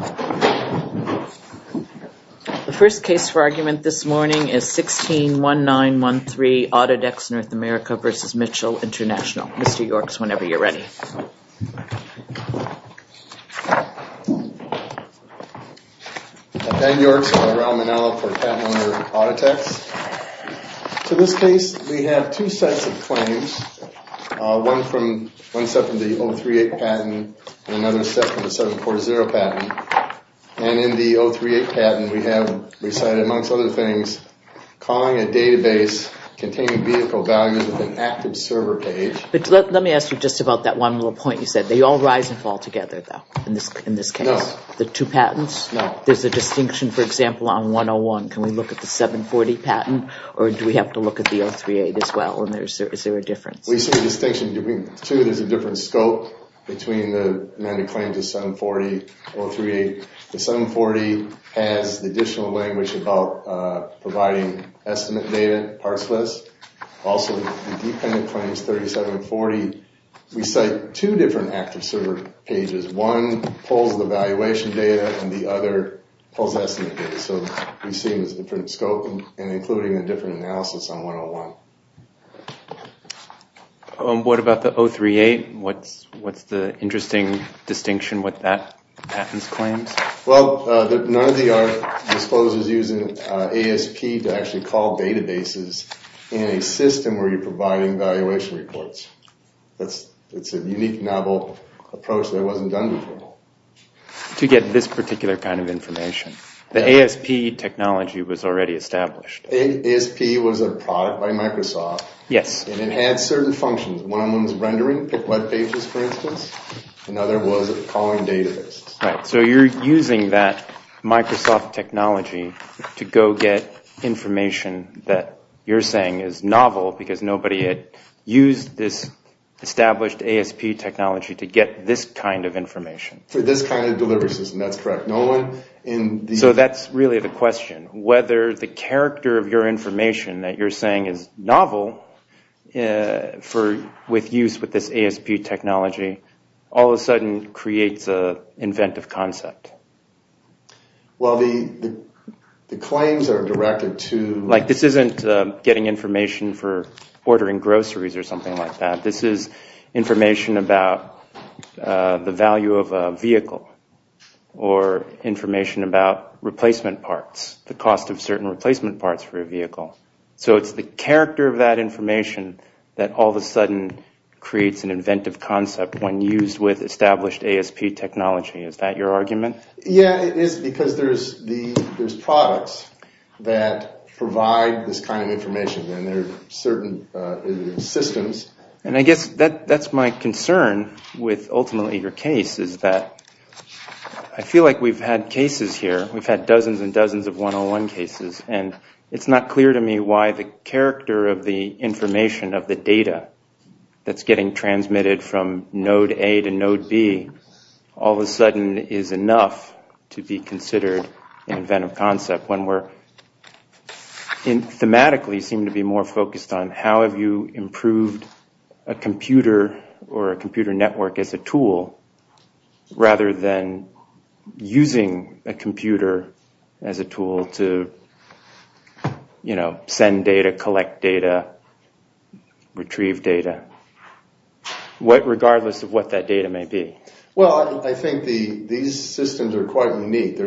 The first case for argument this morning is 161913 Autodex North America v. Mitchell International. Mr. Yorks, whenever you're ready. Thank you. I'm Dan Yorks. I'm a patent owner for Autotex. In this case, we have two sets of claims. One set from the 038 patent and another set from the 740 patent. And in the 038 patent, we have recited, amongst other things, calling a database containing vehicle values with an active server page. But let me ask you just about that one little point you said. They all rise and fall together, though, in this case? No. The two patents? No. There's a distinction, for example, on 101. Can we look at the 740 patent or do we have to look at the 038 as well? Is there a difference? We see a distinction between the two. There's a different scope between the amended claims of 740 and 038. The 740 has the additional language about providing estimate data, parts list. Also, the dependent claims, 3740, we cite two different active server pages. One pulls the valuation data and the other pulls estimate data. So we see a different scope and including a different analysis on 101. What about the 038? What's the interesting distinction with that patent's claims? Well, none of these are disclosed as using ASP to actually call databases in a system where you're providing valuation reports. It's a unique novel approach that wasn't done before. To get this particular kind of information. The ASP technology was already established. ASP was a product by Microsoft. Yes. And it had certain functions. One of them was rendering web pages, for instance. Another was calling databases. So you're using that Microsoft technology to go get information that you're saying is novel because nobody had used this established ASP technology to get this kind of information. For this kind of delivery system, that's correct. So that's really the question. Whether the character of your information that you're saying is novel with use with this ASP technology, all of a sudden creates an inventive concept. Well, the claims are directed to... about replacement parts, the cost of certain replacement parts for a vehicle. So it's the character of that information that all of a sudden creates an inventive concept when used with established ASP technology. Is that your argument? Yeah, it is because there's products that provide this kind of information and there are certain systems. And I guess that's my concern with ultimately your case is that I feel like we've had cases here. We've had dozens and dozens of 101 cases. And it's not clear to me why the character of the information of the data that's getting transmitted from node A to node B all of a sudden is enough to be considered an inventive concept when we thematically seem to be more focused on how have you improved a computer or a computer network as a tool rather than using a computer as a tool to send data, collect data, retrieve data, regardless of what that data may be. Well, I think these systems are quite unique. They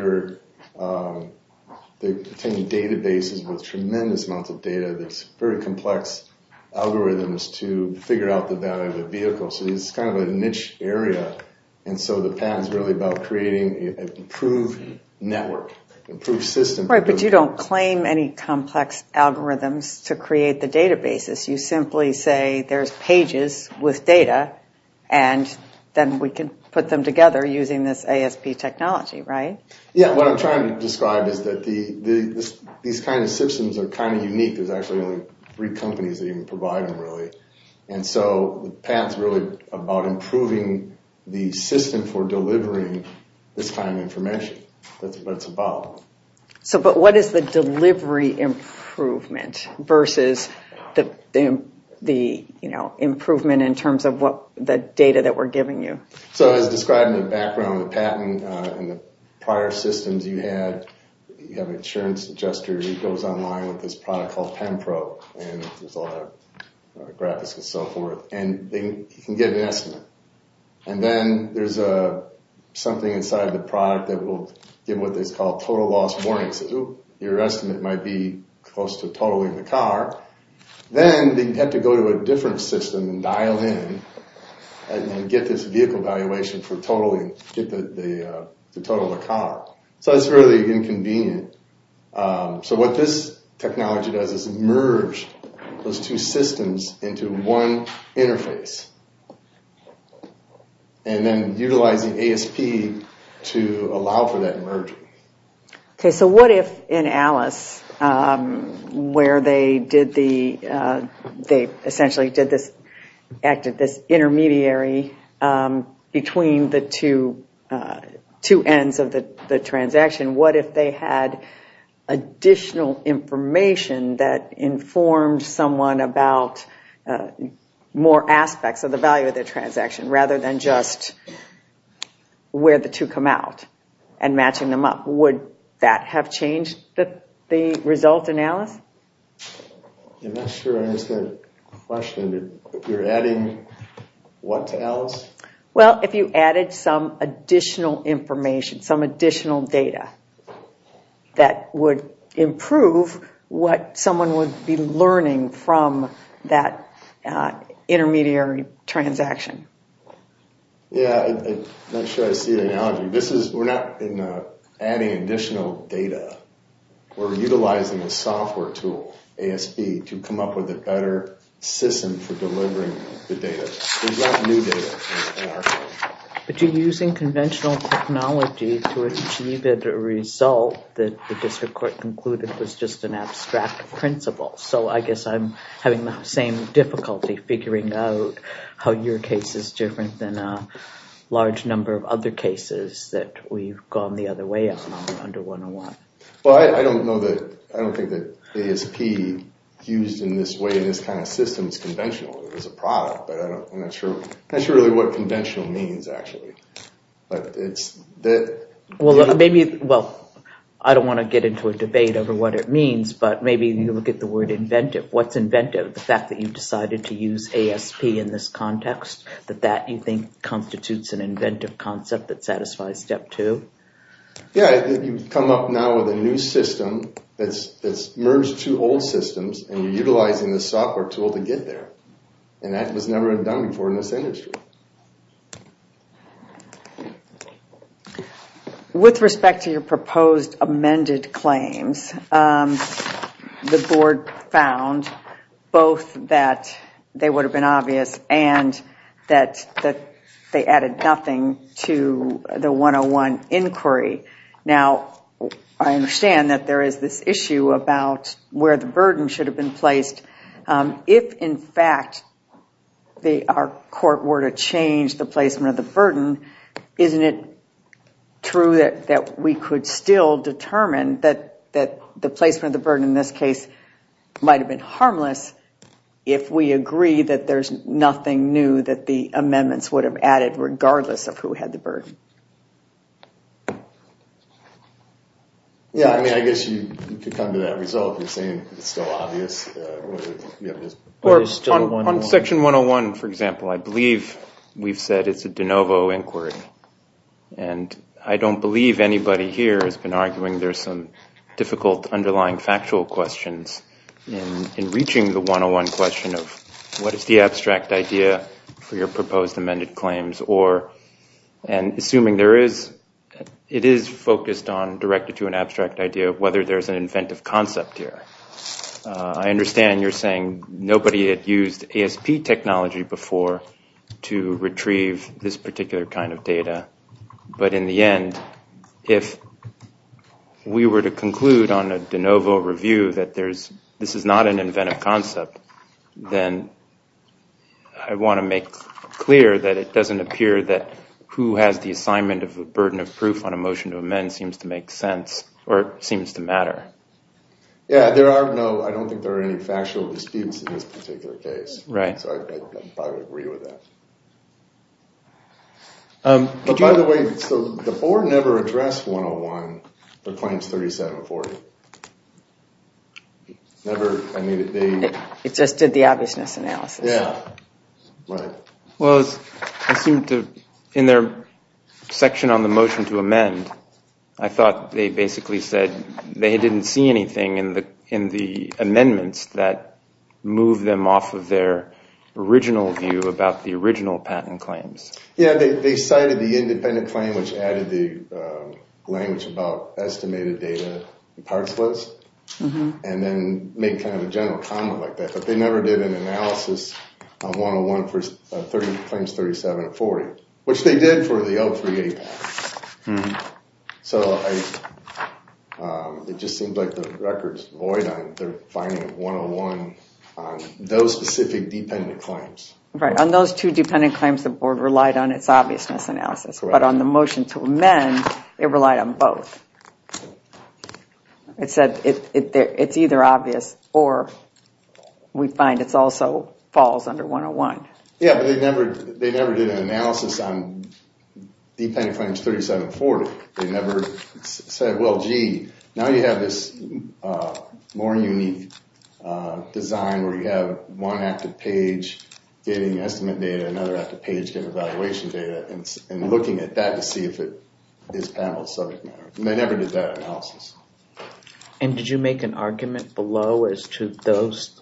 contain databases with tremendous amounts of data that's very complex algorithms to figure out the data of the vehicle. So it's kind of a niche area. And so the patent is really about creating an improved network, improved system. Right, but you don't claim any complex algorithms to create the databases. You simply say there's pages with data and then we can put them together using this ASP technology, right? Yeah, what I'm trying to describe is that these kind of systems are kind of unique. There's actually only three companies that even provide them really. And so the patent's really about improving the system for delivering this kind of information. That's what it's about. But what is the delivery improvement versus the improvement in terms of the data that we're giving you? So as described in the background, the patent and the prior systems you had, you have an insurance adjuster. He goes online with this product called Pen Pro and there's a lot of graphics and so forth. And you can get an estimate. And then there's something inside the product that will give what is called total loss warning. So your estimate might be close to totaling the car. Then you have to go to a different system and dial in and get this vehicle valuation for totaling, get the total of the car. So it's really inconvenient. So what this technology does is merge those two systems into one interface. And then utilizing ASP to allow for that merger. Okay, so what if in Alice, where they essentially acted this intermediary between the two ends of the transaction, what if they had additional information that informed someone about more aspects of the value of their transaction rather than just where the two come out and matching them up? Would that have changed the result in Alice? I'm not sure I understood the question. You're adding what to Alice? Well, if you added some additional information, some additional data, that would improve what someone would be learning from that intermediary transaction. Yeah, I'm not sure I see the analogy. We're not adding additional data. We're utilizing a software tool, ASP, to come up with a better system for delivering the data. But you're using conventional technology to achieve a result that the district court concluded was just an abstract principle. So I guess I'm having the same difficulty figuring out how your case is different than a large number of other cases that we've gone the other way on under 101. Well, I don't think that ASP used in this way in this kind of system is conventional. It's a product, but I'm not sure really what conventional means, actually. Well, I don't want to get into a debate over what it means, but maybe you look at the word inventive. What's inventive? The fact that you've decided to use ASP in this context? That that, you think, constitutes an inventive concept that satisfies step two? Yeah, you've come up now with a new system that's merged two old systems, and you're utilizing the software tool to get there. And that was never done before in this industry. With respect to your proposed amended claims, the board found both that they would have been obvious and that they added nothing to the 101 inquiry. Now, I understand that there is this issue about where the burden should have been placed. If, in fact, our court were to change the placement of the burden, isn't it true that we could still determine that the placement of the burden in this case might have been harmless if we agree that there's nothing new that the amendments would have added, regardless of who had the burden? Yeah, I mean, I guess you could come to that result in saying it's still obvious. On Section 101, for example, I believe we've said it's a de novo inquiry. And I don't believe anybody here has been arguing there's some difficult underlying factual questions in reaching the 101 question of, what is the abstract idea for your proposed amended claims? And assuming there is, it is focused on directed to an abstract idea of whether there's an inventive concept here. I understand you're saying nobody had used ASP technology before to retrieve this particular kind of data. But in the end, if we were to conclude on a de novo review that this is not an inventive concept, then I want to make clear that it doesn't appear that who has the assignment of the burden of proof on a motion to amend seems to make sense or seems to matter. Yeah, I don't think there are any factual disputes in this particular case. Right. So I would agree with that. By the way, the board never addressed 101 for Claims 3740. Never. It just did the obviousness analysis. Yeah, right. Well, it seemed to, in their section on the motion to amend, I thought they basically said they didn't see anything in the amendments that moved them off of their original view about the original patent claims. Yeah, they cited the independent claim which added the language about estimated data and parts list and then made kind of a general comment like that. But they never did an analysis on 101 for Claims 3740, which they did for the L3A patent. So it just seems like the record is void on their finding of 101 on those specific dependent claims. Right. On those two dependent claims, the board relied on its obviousness analysis. But on the motion to amend, it relied on both. It said it's either obvious or we find it also falls under 101. Yeah, but they never did an analysis on dependent claims 3740. They never said, well, gee, now you have this more unique design where you have one active page getting estimate data, another active page getting evaluation data, and looking at that to see if it is panel subject matter. They never did that analysis. And did you make an argument below as to those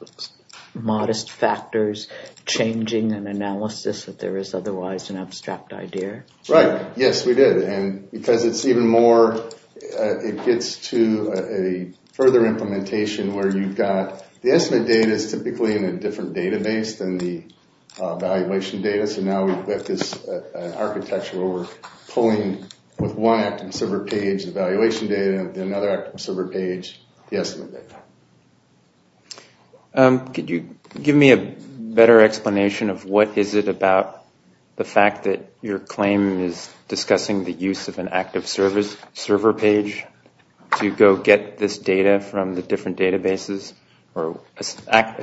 modest factors changing an analysis that there is otherwise an abstract idea? Right. Yes, we did. And because it's even more, it gets to a further implementation where you've got the estimate data is typically in a different database than the evaluation data. So now we've got this architecture where we're pulling, with one active server page, the evaluation data, and then another active server page, the estimate data. Could you give me a better explanation of what is it about the fact that your claim is discussing the use of an active server page to go get this data from the different databases, or a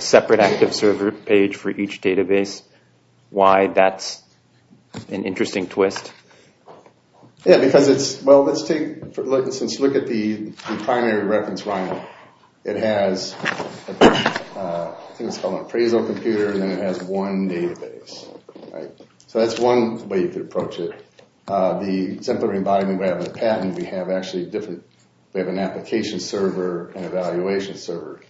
separate active server page for each database, why that's an interesting twist? Yeah, because it's, well, let's take, since you look at the primary reference line, it has, I think it's called an appraisal computer, and then it has one database. So that's one way to approach it. The exemplary embodiment we have in the patent, we have actually different, we have an application server and an evaluation server.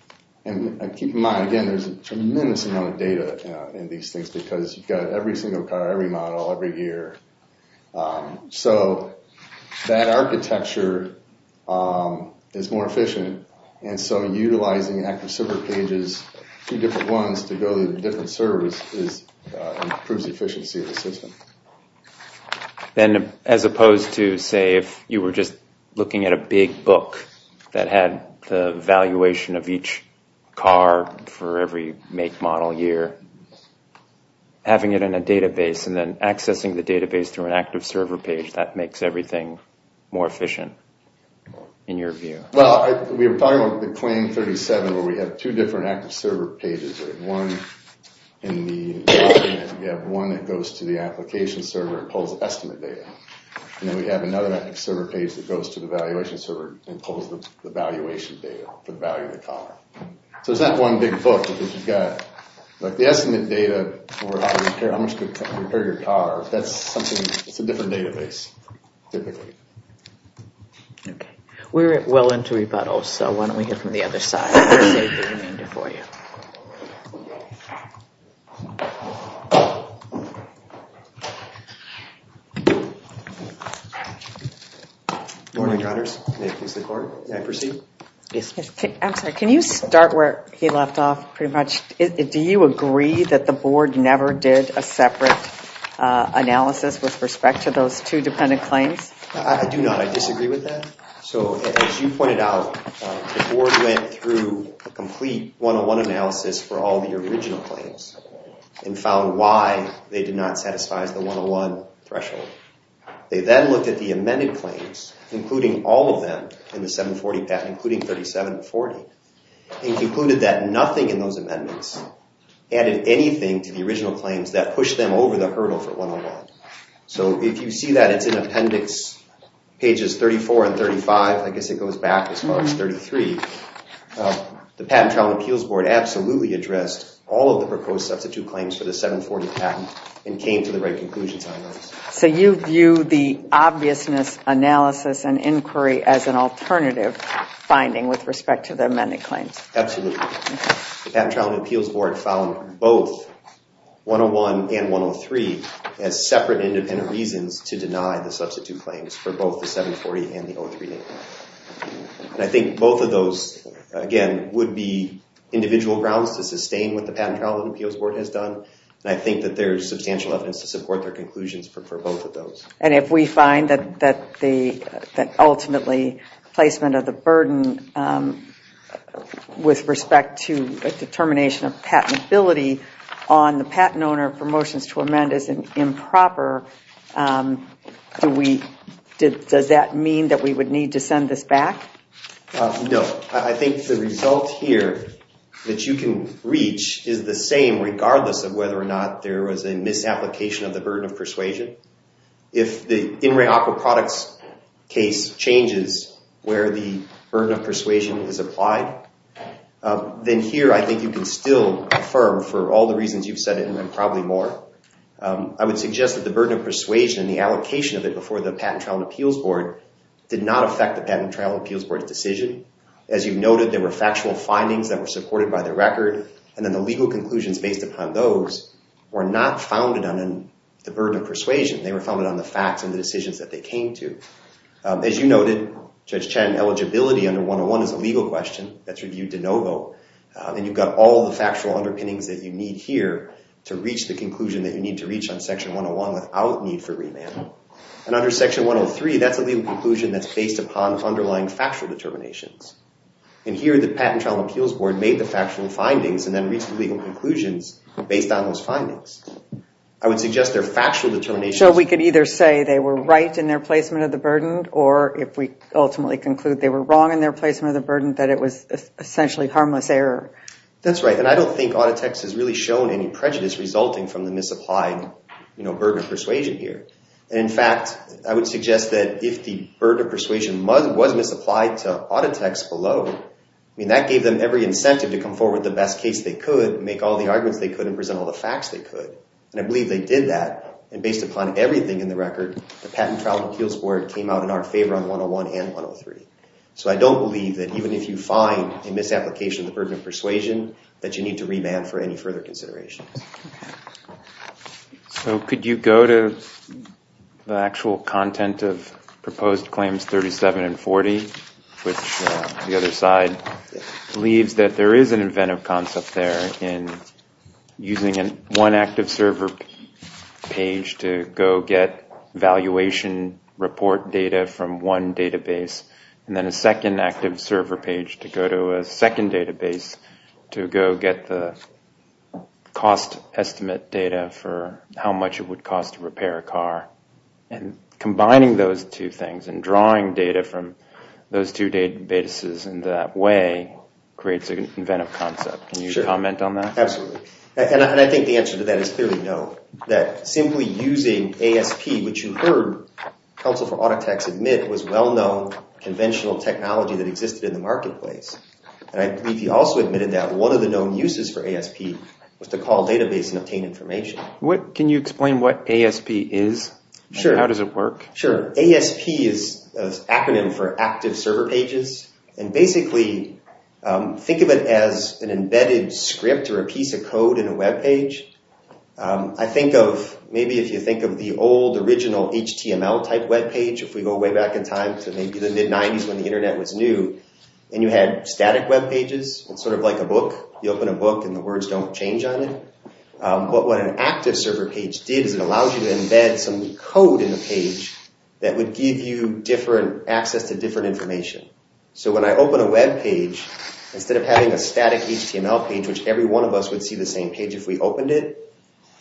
And keep in mind, again, there's a tremendous amount of data in these things because you've got every single car, every model, every year. So that architecture is more efficient, and so utilizing active server pages, two different ones, to go to the different servers improves the efficiency of the system. Then, as opposed to, say, if you were just looking at a big book that had the evaluation of each car for every make, model, year, having it in a database and then accessing the database through an active server page, that makes everything more efficient, in your view? Well, we were talking about the Claim 37 where we have two different active server pages. One in the document, we have one that goes to the application server and pulls the estimate data. And then we have another active server page that goes to the evaluation server and pulls the valuation data, the value of the car. So it's not one big book because you've got, like, the estimate data for how much to repair your car. That's something, it's a different database, typically. Okay. We're well into rebuttals, so why don't we hear from the other side. I'll save the remainder for you. Good morning, Connors. May it please the Court. May I proceed? Yes. I'm sorry. Can you start where he left off, pretty much? Do you agree that the Board never did a separate analysis with respect to those two dependent claims? I do not. I disagree with that. So, as you pointed out, the Board went through a complete 101 analysis for all the original claims and found why they did not satisfy the 101 threshold. They then looked at the amended claims, including all of them in the 740 patent, including 37 and 40, and concluded that nothing in those amendments added anything to the original claims that pushed them over the hurdle for 101. So if you see that, it's in appendix pages 34 and 35. I guess it goes back as far as 33. The Patent Trial and Appeals Board absolutely addressed all of the proposed substitute claims for the 740 patent and came to the right conclusions on those. So you view the obviousness analysis and inquiry as an alternative finding with respect to the amended claims? Absolutely. The Patent Trial and Appeals Board found both 101 and 103 as separate independent reasons to deny the substitute claims for both the 740 and the 03. And I think both of those, again, would be individual grounds to sustain what the Patent Trial and Appeals Board has done. And I think that there is substantial evidence to support their conclusions for both of those. And if we find that ultimately placement of the burden with respect to a determination of patentability on the patent owner for motions to amend is improper, does that mean that we would need to send this back? No. I think the result here that you can reach is the same regardless of whether or not there was a misapplication of the burden of persuasion. If the in re opera products case changes where the burden of persuasion is applied, then here I think you can still affirm for all the reasons you've said and probably more. I would suggest that the burden of persuasion and the allocation of it before the Patent Trial and Appeals Board did not affect the Patent Trial and Appeals Board's decision. As you've noted, there were factual findings that were supported by the record. And then the legal conclusions based upon those were not founded on the burden of persuasion. They were founded on the facts and the decisions that they came to. As you noted, Judge Chen, eligibility under 101 is a legal question that's reviewed de novo. And you've got all the factual underpinnings that you need here to reach the conclusion that you need to reach on Section 101 without need for remand. And under Section 103, that's a legal conclusion that's based upon underlying factual determinations. And here the Patent Trial and Appeals Board made the factual findings and then reached legal conclusions based on those findings. I would suggest their factual determinations... Or if we ultimately conclude they were wrong in their placement of the burden, that it was essentially harmless error. That's right. And I don't think Auditex has really shown any prejudice resulting from the misapplied burden of persuasion here. And in fact, I would suggest that if the burden of persuasion was misapplied to Auditex below, that gave them every incentive to come forward with the best case they could, make all the arguments they could, and present all the facts they could. And I believe they did that. And based upon everything in the record, the Patent Trial and Appeals Board came out in our favor on 101 and 103. So I don't believe that even if you find a misapplication of the burden of persuasion, that you need to remand for any further considerations. So could you go to the actual content of proposed claims 37 and 40, which the other side leaves that there is an inventive concept there in using one active server page to go get valuation report data from one database, and then a second active server page to go to a second database to go get the cost estimate data for how much it would cost to repair a car? And combining those two things and drawing data from those two databases in that way creates an inventive concept. Can you comment on that? Absolutely. And I think the answer to that is clearly no. That simply using ASP, which you heard Council for Auditex admit was well-known conventional technology that existed in the marketplace. And I believe he also admitted that one of the known uses for ASP was to call a database and obtain information. Can you explain what ASP is and how does it work? Sure. ASP is an acronym for active server pages. And basically, think of it as an embedded script or a piece of code in a web page. I think of, maybe if you think of the old original HTML type web page, if we go way back in time to maybe the mid-90s when the internet was new, and you had static web pages, it's sort of like a book. You open a book and the words don't change on it. But what an active server page did is it allows you to embed some code in the page that would give you access to different information. So when I open a web page, instead of having a static HTML page, which every one of us would see the same page if we opened it,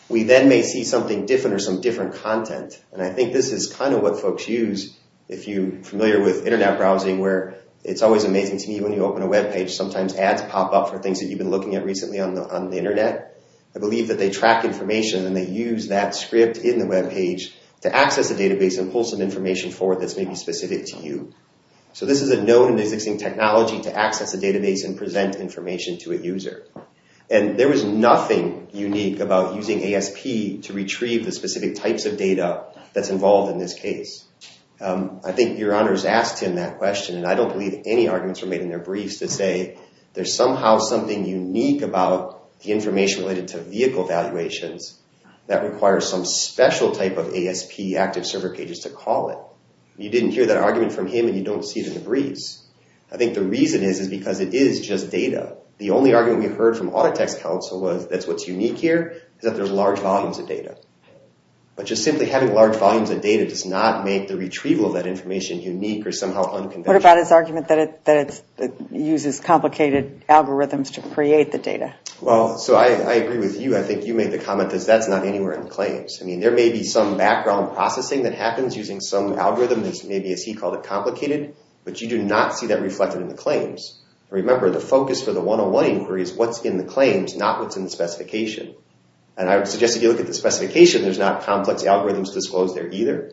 we then may see something different or some different content. And I think this is kind of what folks use if you're familiar with internet browsing, where it's always amazing to me when you open a web page, sometimes ads pop up for things that you've been looking at recently on the internet. I believe that they track information and they use that script in the web page to access a database and pull some information forward that's maybe specific to you. So this is a known and existing technology to access a database and present information to a user. And there was nothing unique about using ASP to retrieve the specific types of data that's involved in this case. I think Your Honor has asked him that question, and I don't believe any arguments were made in their briefs to say there's somehow something unique about the information related to vehicle valuations that requires some special type of ASP active server pages to call it. You didn't hear that argument from him and you don't see it in the briefs. I think the reason is because it is just data. The only argument we heard from Autotext Counsel was that what's unique here is that there's large volumes of data. But just simply having large volumes of data does not make the retrieval of that information unique or somehow unconventional. What about his argument that it uses complicated algorithms to create the data? Well, so I agree with you. I think you made the comment that that's not anywhere in the claims. I mean, there may be some background processing that happens using some algorithm that's maybe, as he called it, complicated, but you do not see that reflected in the claims. Remember, the focus for the 101 inquiry is what's in the claims, not what's in the specification. And I would suggest if you look at the specification, there's not complex algorithms disclosed there either,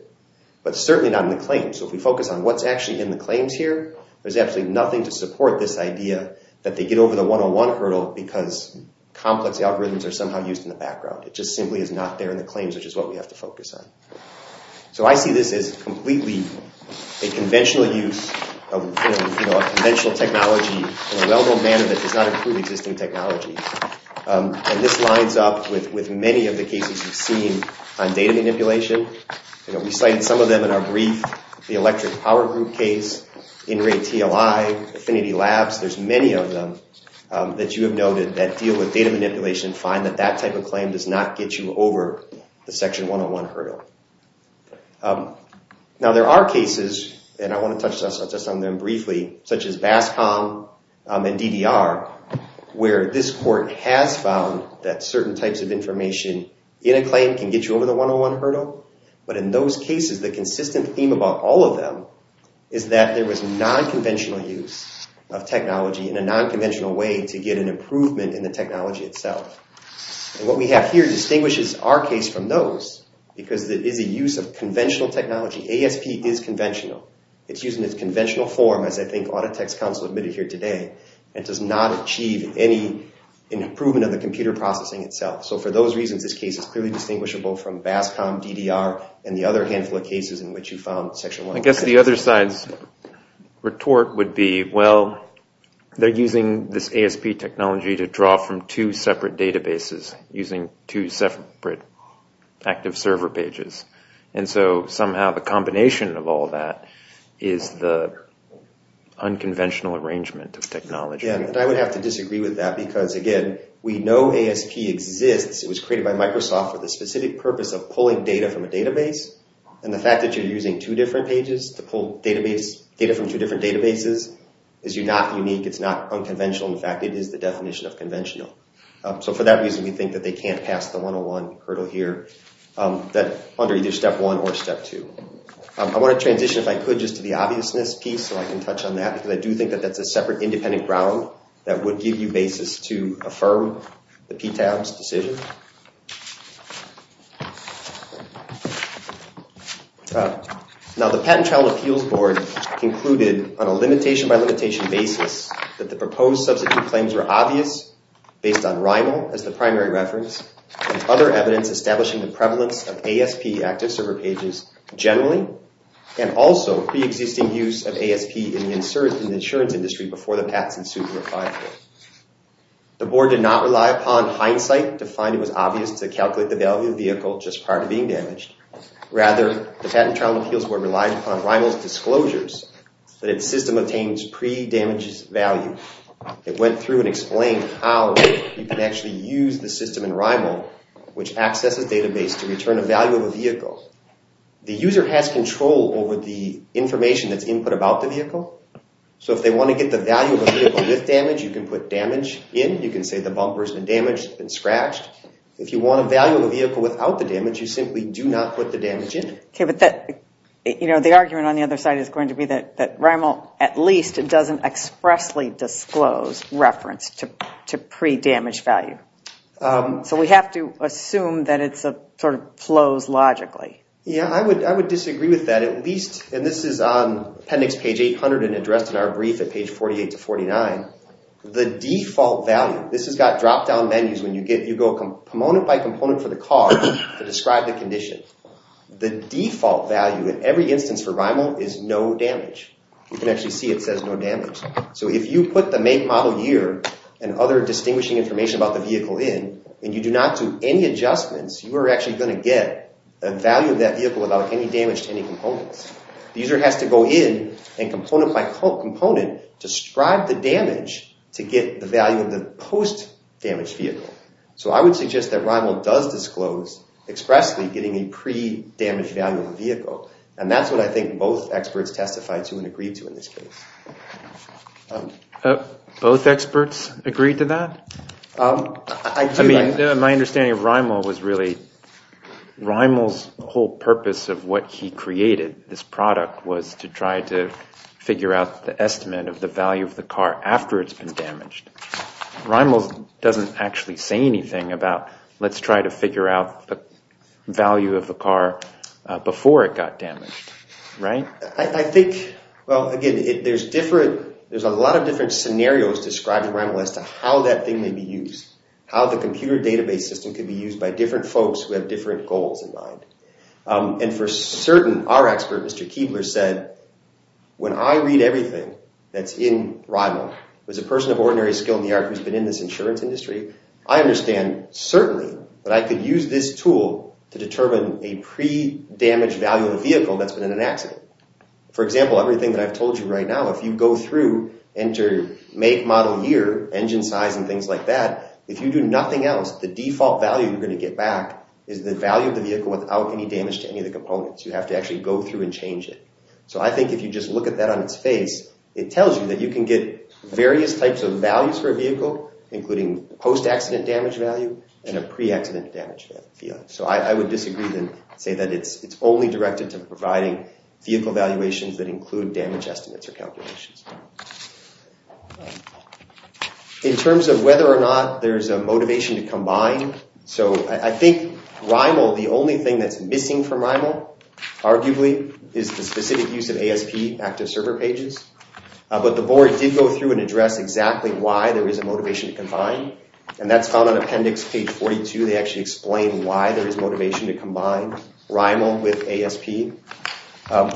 but certainly not in the claims. So if we focus on what's actually in the claims here, there's absolutely nothing to support this idea that they get over the 101 hurdle because complex algorithms are somehow used in the background. It just simply is not there in the claims, which is what we have to focus on. So I see this as completely a conventional use of conventional technology in a well-known manner that does not include existing technology. And this lines up with many of the cases we've seen on data manipulation. We cited some of them in our brief, the electric power group case, in-rate TLI, Affinity Labs. There's many of them that you have noted that deal with data manipulation, find that that type of claim does not get you over the Section 101 hurdle. Now, there are cases, and I want to touch just on them briefly, such as BASCOM and DDR, where this court has found that certain types of information in a claim can get you over the 101 hurdle. But in those cases, the consistent theme about all of them is that there was non-conventional use of technology in a non-conventional way to get an improvement in the technology itself. And what we have here distinguishes our case from those because it is a use of conventional technology. ASP is conventional. It's used in its conventional form, as I think Autotext Council admitted here today, and does not achieve any improvement of the computer processing itself. So for those reasons, this case is clearly distinguishable from BASCOM, DDR, and the other handful of cases in which you found Section 101. I guess the other side's retort would be, well, they're using this ASP technology to draw from two separate databases using two separate active server pages. And so somehow the combination of all that is the unconventional arrangement of technology. And I would have to disagree with that because, again, we know ASP exists. It was created by Microsoft for the specific purpose of pulling data from a database. And the fact that you're using two different pages to pull data from two different databases is not unique. It's not unconventional. In fact, it is the definition of conventional. So for that reason, we think that they can't pass the 101 hurdle here under either Step 1 or Step 2. I want to transition, if I could, just to the obviousness piece so I can touch on that, because I do think that that's a separate independent ground that would give you basis to affirm the PTAB's decision. Now, the Patent Trial Appeals Board concluded on a limitation-by-limitation basis that the proposed substitute claims were obvious, based on RINAL as the primary reference, and other evidence establishing the prevalence of ASP active server pages generally, and also pre-existing use of ASP in the insurance industry before the patent suit were filed. The board did not rely upon hindsight to find it was obvious to calculate the value of the vehicle just prior to being damaged. Rather, the Patent Trial Appeals Board relied upon RINAL's disclosures that its system obtains pre-damages value. It went through and explained how you can actually use the system in RINAL, which accesses database to return a value of a vehicle. The user has control over the information that's input about the vehicle. So if they want to get the value of a vehicle with damage, you can put damage in. You can say the bumper's been damaged and scratched. If you want a value of a vehicle without the damage, you simply do not put the damage in. Okay, but the argument on the other side is going to be that RINAL at least doesn't expressly disclose reference to pre-damage value. So we have to assume that it sort of flows logically. Yeah, I would disagree with that at least. And this is on appendix page 800 and addressed in our brief at page 48 to 49. The default value, this has got drop-down menus when you go component by component for the car to describe the condition. The default value in every instance for RINAL is no damage. You can actually see it says no damage. So if you put the make, model, year, and other distinguishing information about the vehicle in, and you do not do any adjustments, you are actually going to get a value of that vehicle without any damage to any components. The user has to go in and component by component describe the damage to get the value of the post-damaged vehicle. So I would suggest that RINAL does disclose expressly getting a pre-damage value of the vehicle. And that's what I think both experts testified to and agreed to in this case. Both experts agreed to that? I mean, my understanding of RINAL was really RINAL's whole purpose of what he created, this product, was to try to figure out the estimate of the value of the car after it's been damaged. RINAL doesn't actually say anything about let's try to figure out the value of the car before it got damaged, right? Well, again, there's a lot of different scenarios described in RINAL as to how that thing may be used, how the computer database system could be used by different folks who have different goals in mind. And for certain, our expert, Mr. Keebler, said, when I read everything that's in RINAL, as a person of ordinary skill in the art who's been in this insurance industry, I understand certainly that I could use this tool to determine a pre-damage value of the vehicle that's been in an accident. For example, everything that I've told you right now, if you go through, enter make model year, engine size, and things like that, if you do nothing else, the default value you're going to get back is the value of the vehicle without any damage to any of the components. You have to actually go through and change it. So I think if you just look at that on its face, it tells you that you can get various types of values for a vehicle, including post-accident damage value and a pre-accident damage value. So I would disagree and say that it's only directed to providing vehicle valuations that include damage estimates or calculations. In terms of whether or not there's a motivation to combine, so I think RINAL, the only thing that's missing from RINAL, arguably, is the specific use of ASP active server pages. But the board did go through and address exactly why there is a motivation to combine, and that's found on appendix page 42. They actually explain why there is motivation to combine RINAL with ASP.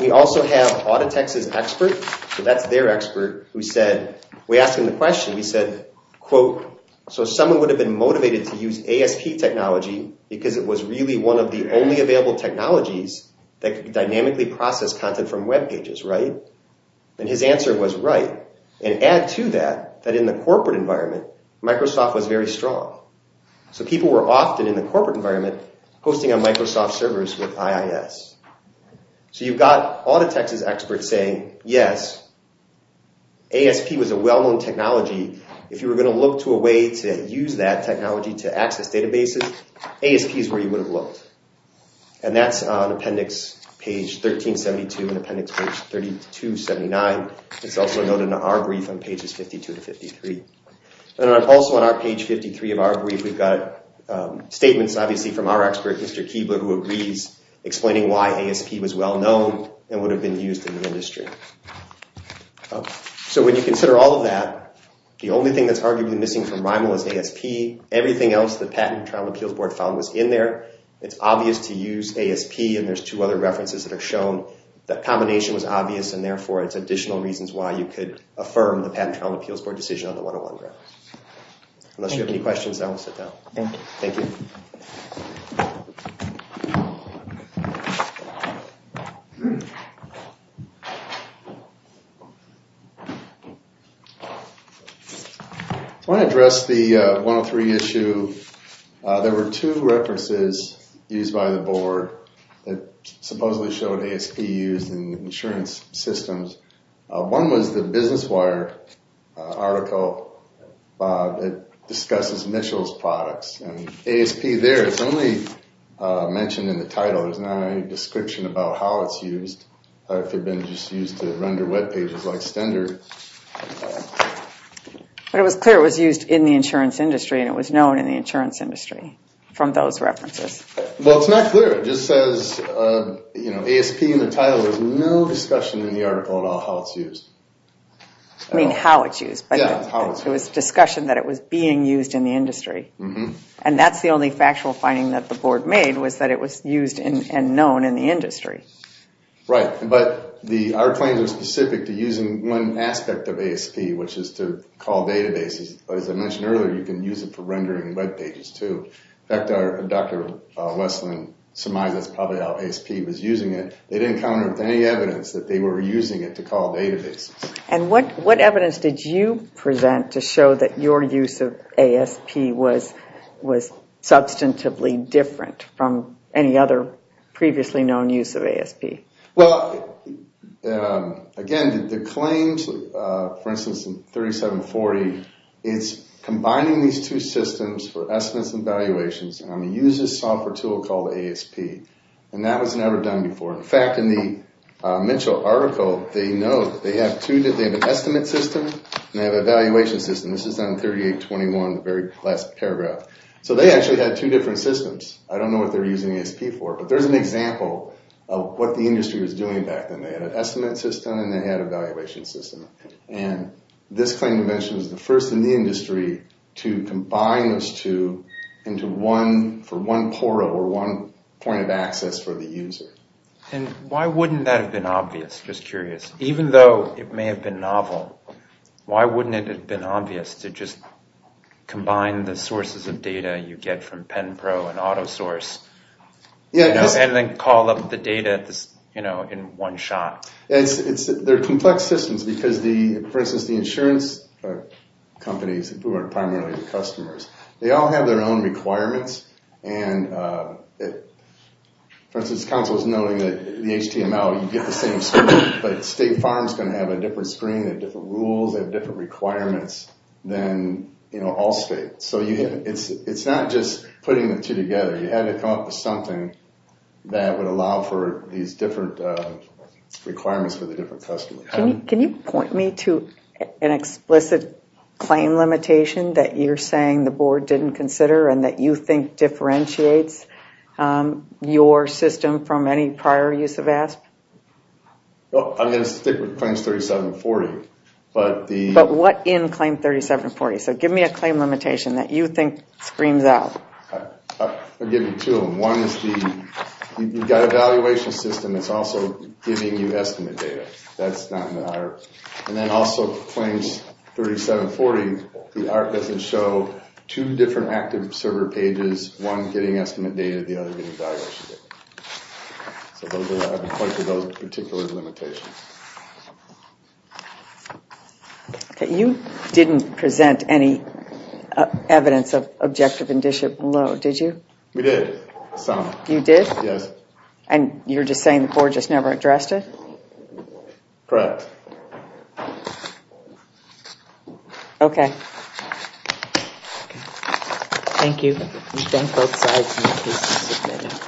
We also have Autotex's expert, so that's their expert, who said, we asked him the question. We said, quote, so someone would have been motivated to use ASP technology because it was really one of the only available technologies that could dynamically process content from web pages, right? And his answer was right. And add to that that in the corporate environment, Microsoft was very strong. So people were often in the corporate environment hosting on Microsoft servers with IIS. So you've got Autotex's expert saying, yes, ASP was a well-known technology. If you were going to look to a way to use that technology to access databases, ASP is where you would have looked. And that's on appendix page 1372 and appendix page 3279. It's also noted in our brief on pages 52 to 53. And also on page 53 of our brief, we've got statements, obviously, from our expert, Mr. Keebler, who agrees explaining why ASP was well-known and would have been used in the industry. So when you consider all of that, the only thing that's arguably missing from RINAL is ASP. Everything else the Patent and Trial and Appeals Board found was in there. It's obvious to use ASP. And there's two other references that have shown that combination was obvious. And therefore, it's additional reasons why you could affirm the Patent and Trial and Appeals Board decision on the 101 reference. Unless you have any questions, I will sit down. Thank you. I want to address the 103 issue. There were two references used by the board that supposedly showed ASP used in insurance systems. One was the Business Wire article that discusses Mitchell's products. And ASP there, it's only mentioned in the title. There's not any description about how it's used or if it had been just used to render web pages like standard. But it was clear it was used in the insurance industry and it was known in the insurance industry from those references. Well, it's not clear. It just says, you know, ASP in the title. There's no discussion in the article at all how it's used. I mean how it's used. Yeah, how it's used. It was a discussion that it was being used in the industry. And that's the only factual finding that the board made was that it was used and known in the industry. Right. But our claims are specific to using one aspect of ASP, which is to call databases. As I mentioned earlier, you can use it for rendering web pages too. In fact, Dr. Westland surmised that's probably how ASP was using it. They didn't come up with any evidence that they were using it to call databases. And what evidence did you present to show that your use of ASP was substantively different from any other previously known use of ASP? Well, again, the claims, for instance, in 3740, it's combining these two systems for estimates and valuations. And I'm going to use this software tool called ASP. And that was never done before. In fact, in the Mitchell article, they note they have an estimate system and they have a valuation system. This is on 3821, the very last paragraph. So they actually had two different systems. I don't know what they were using ASP for. But there's an example of what the industry was doing back then. They had an estimate system and they had a valuation system. And this claim to mention is the first in the industry to combine those two for one portal or one point of access for the user. And why wouldn't that have been obvious? Just curious. Even though it may have been novel, why wouldn't it have been obvious to just combine the sources of data you get from Pen Pro and AutoSource? And then call up the data in one shot. They're complex systems because, for instance, the insurance companies who are primarily the customers, they all have their own requirements. And, for instance, counsel is noting that the HTML, you get the same screen, but State Farm is going to have a different screen, they have different rules, they have different requirements than Allstate. So it's not just putting the two together. You had to come up with something that would allow for these different requirements for the different customers. Can you point me to an explicit claim limitation that you're saying the board didn't consider and that you think differentiates your system from any prior use of ASP? Well, I'm going to stick with claims 3740. But what in claim 3740? So give me a claim limitation that you think screams out. I'll give you two of them. One is you've got a valuation system that's also giving you estimate data. That's not in the IRB. And then also claims 3740, the IRB doesn't show two different active server pages, one getting estimate data, the other getting valuation data. So those are the particular limitations. Okay. You didn't present any evidence of objective indicia below, did you? We did. Some. You did? Yes. And you're just saying the board just never addressed it? Correct. Okay. Thank you. We thank both sides.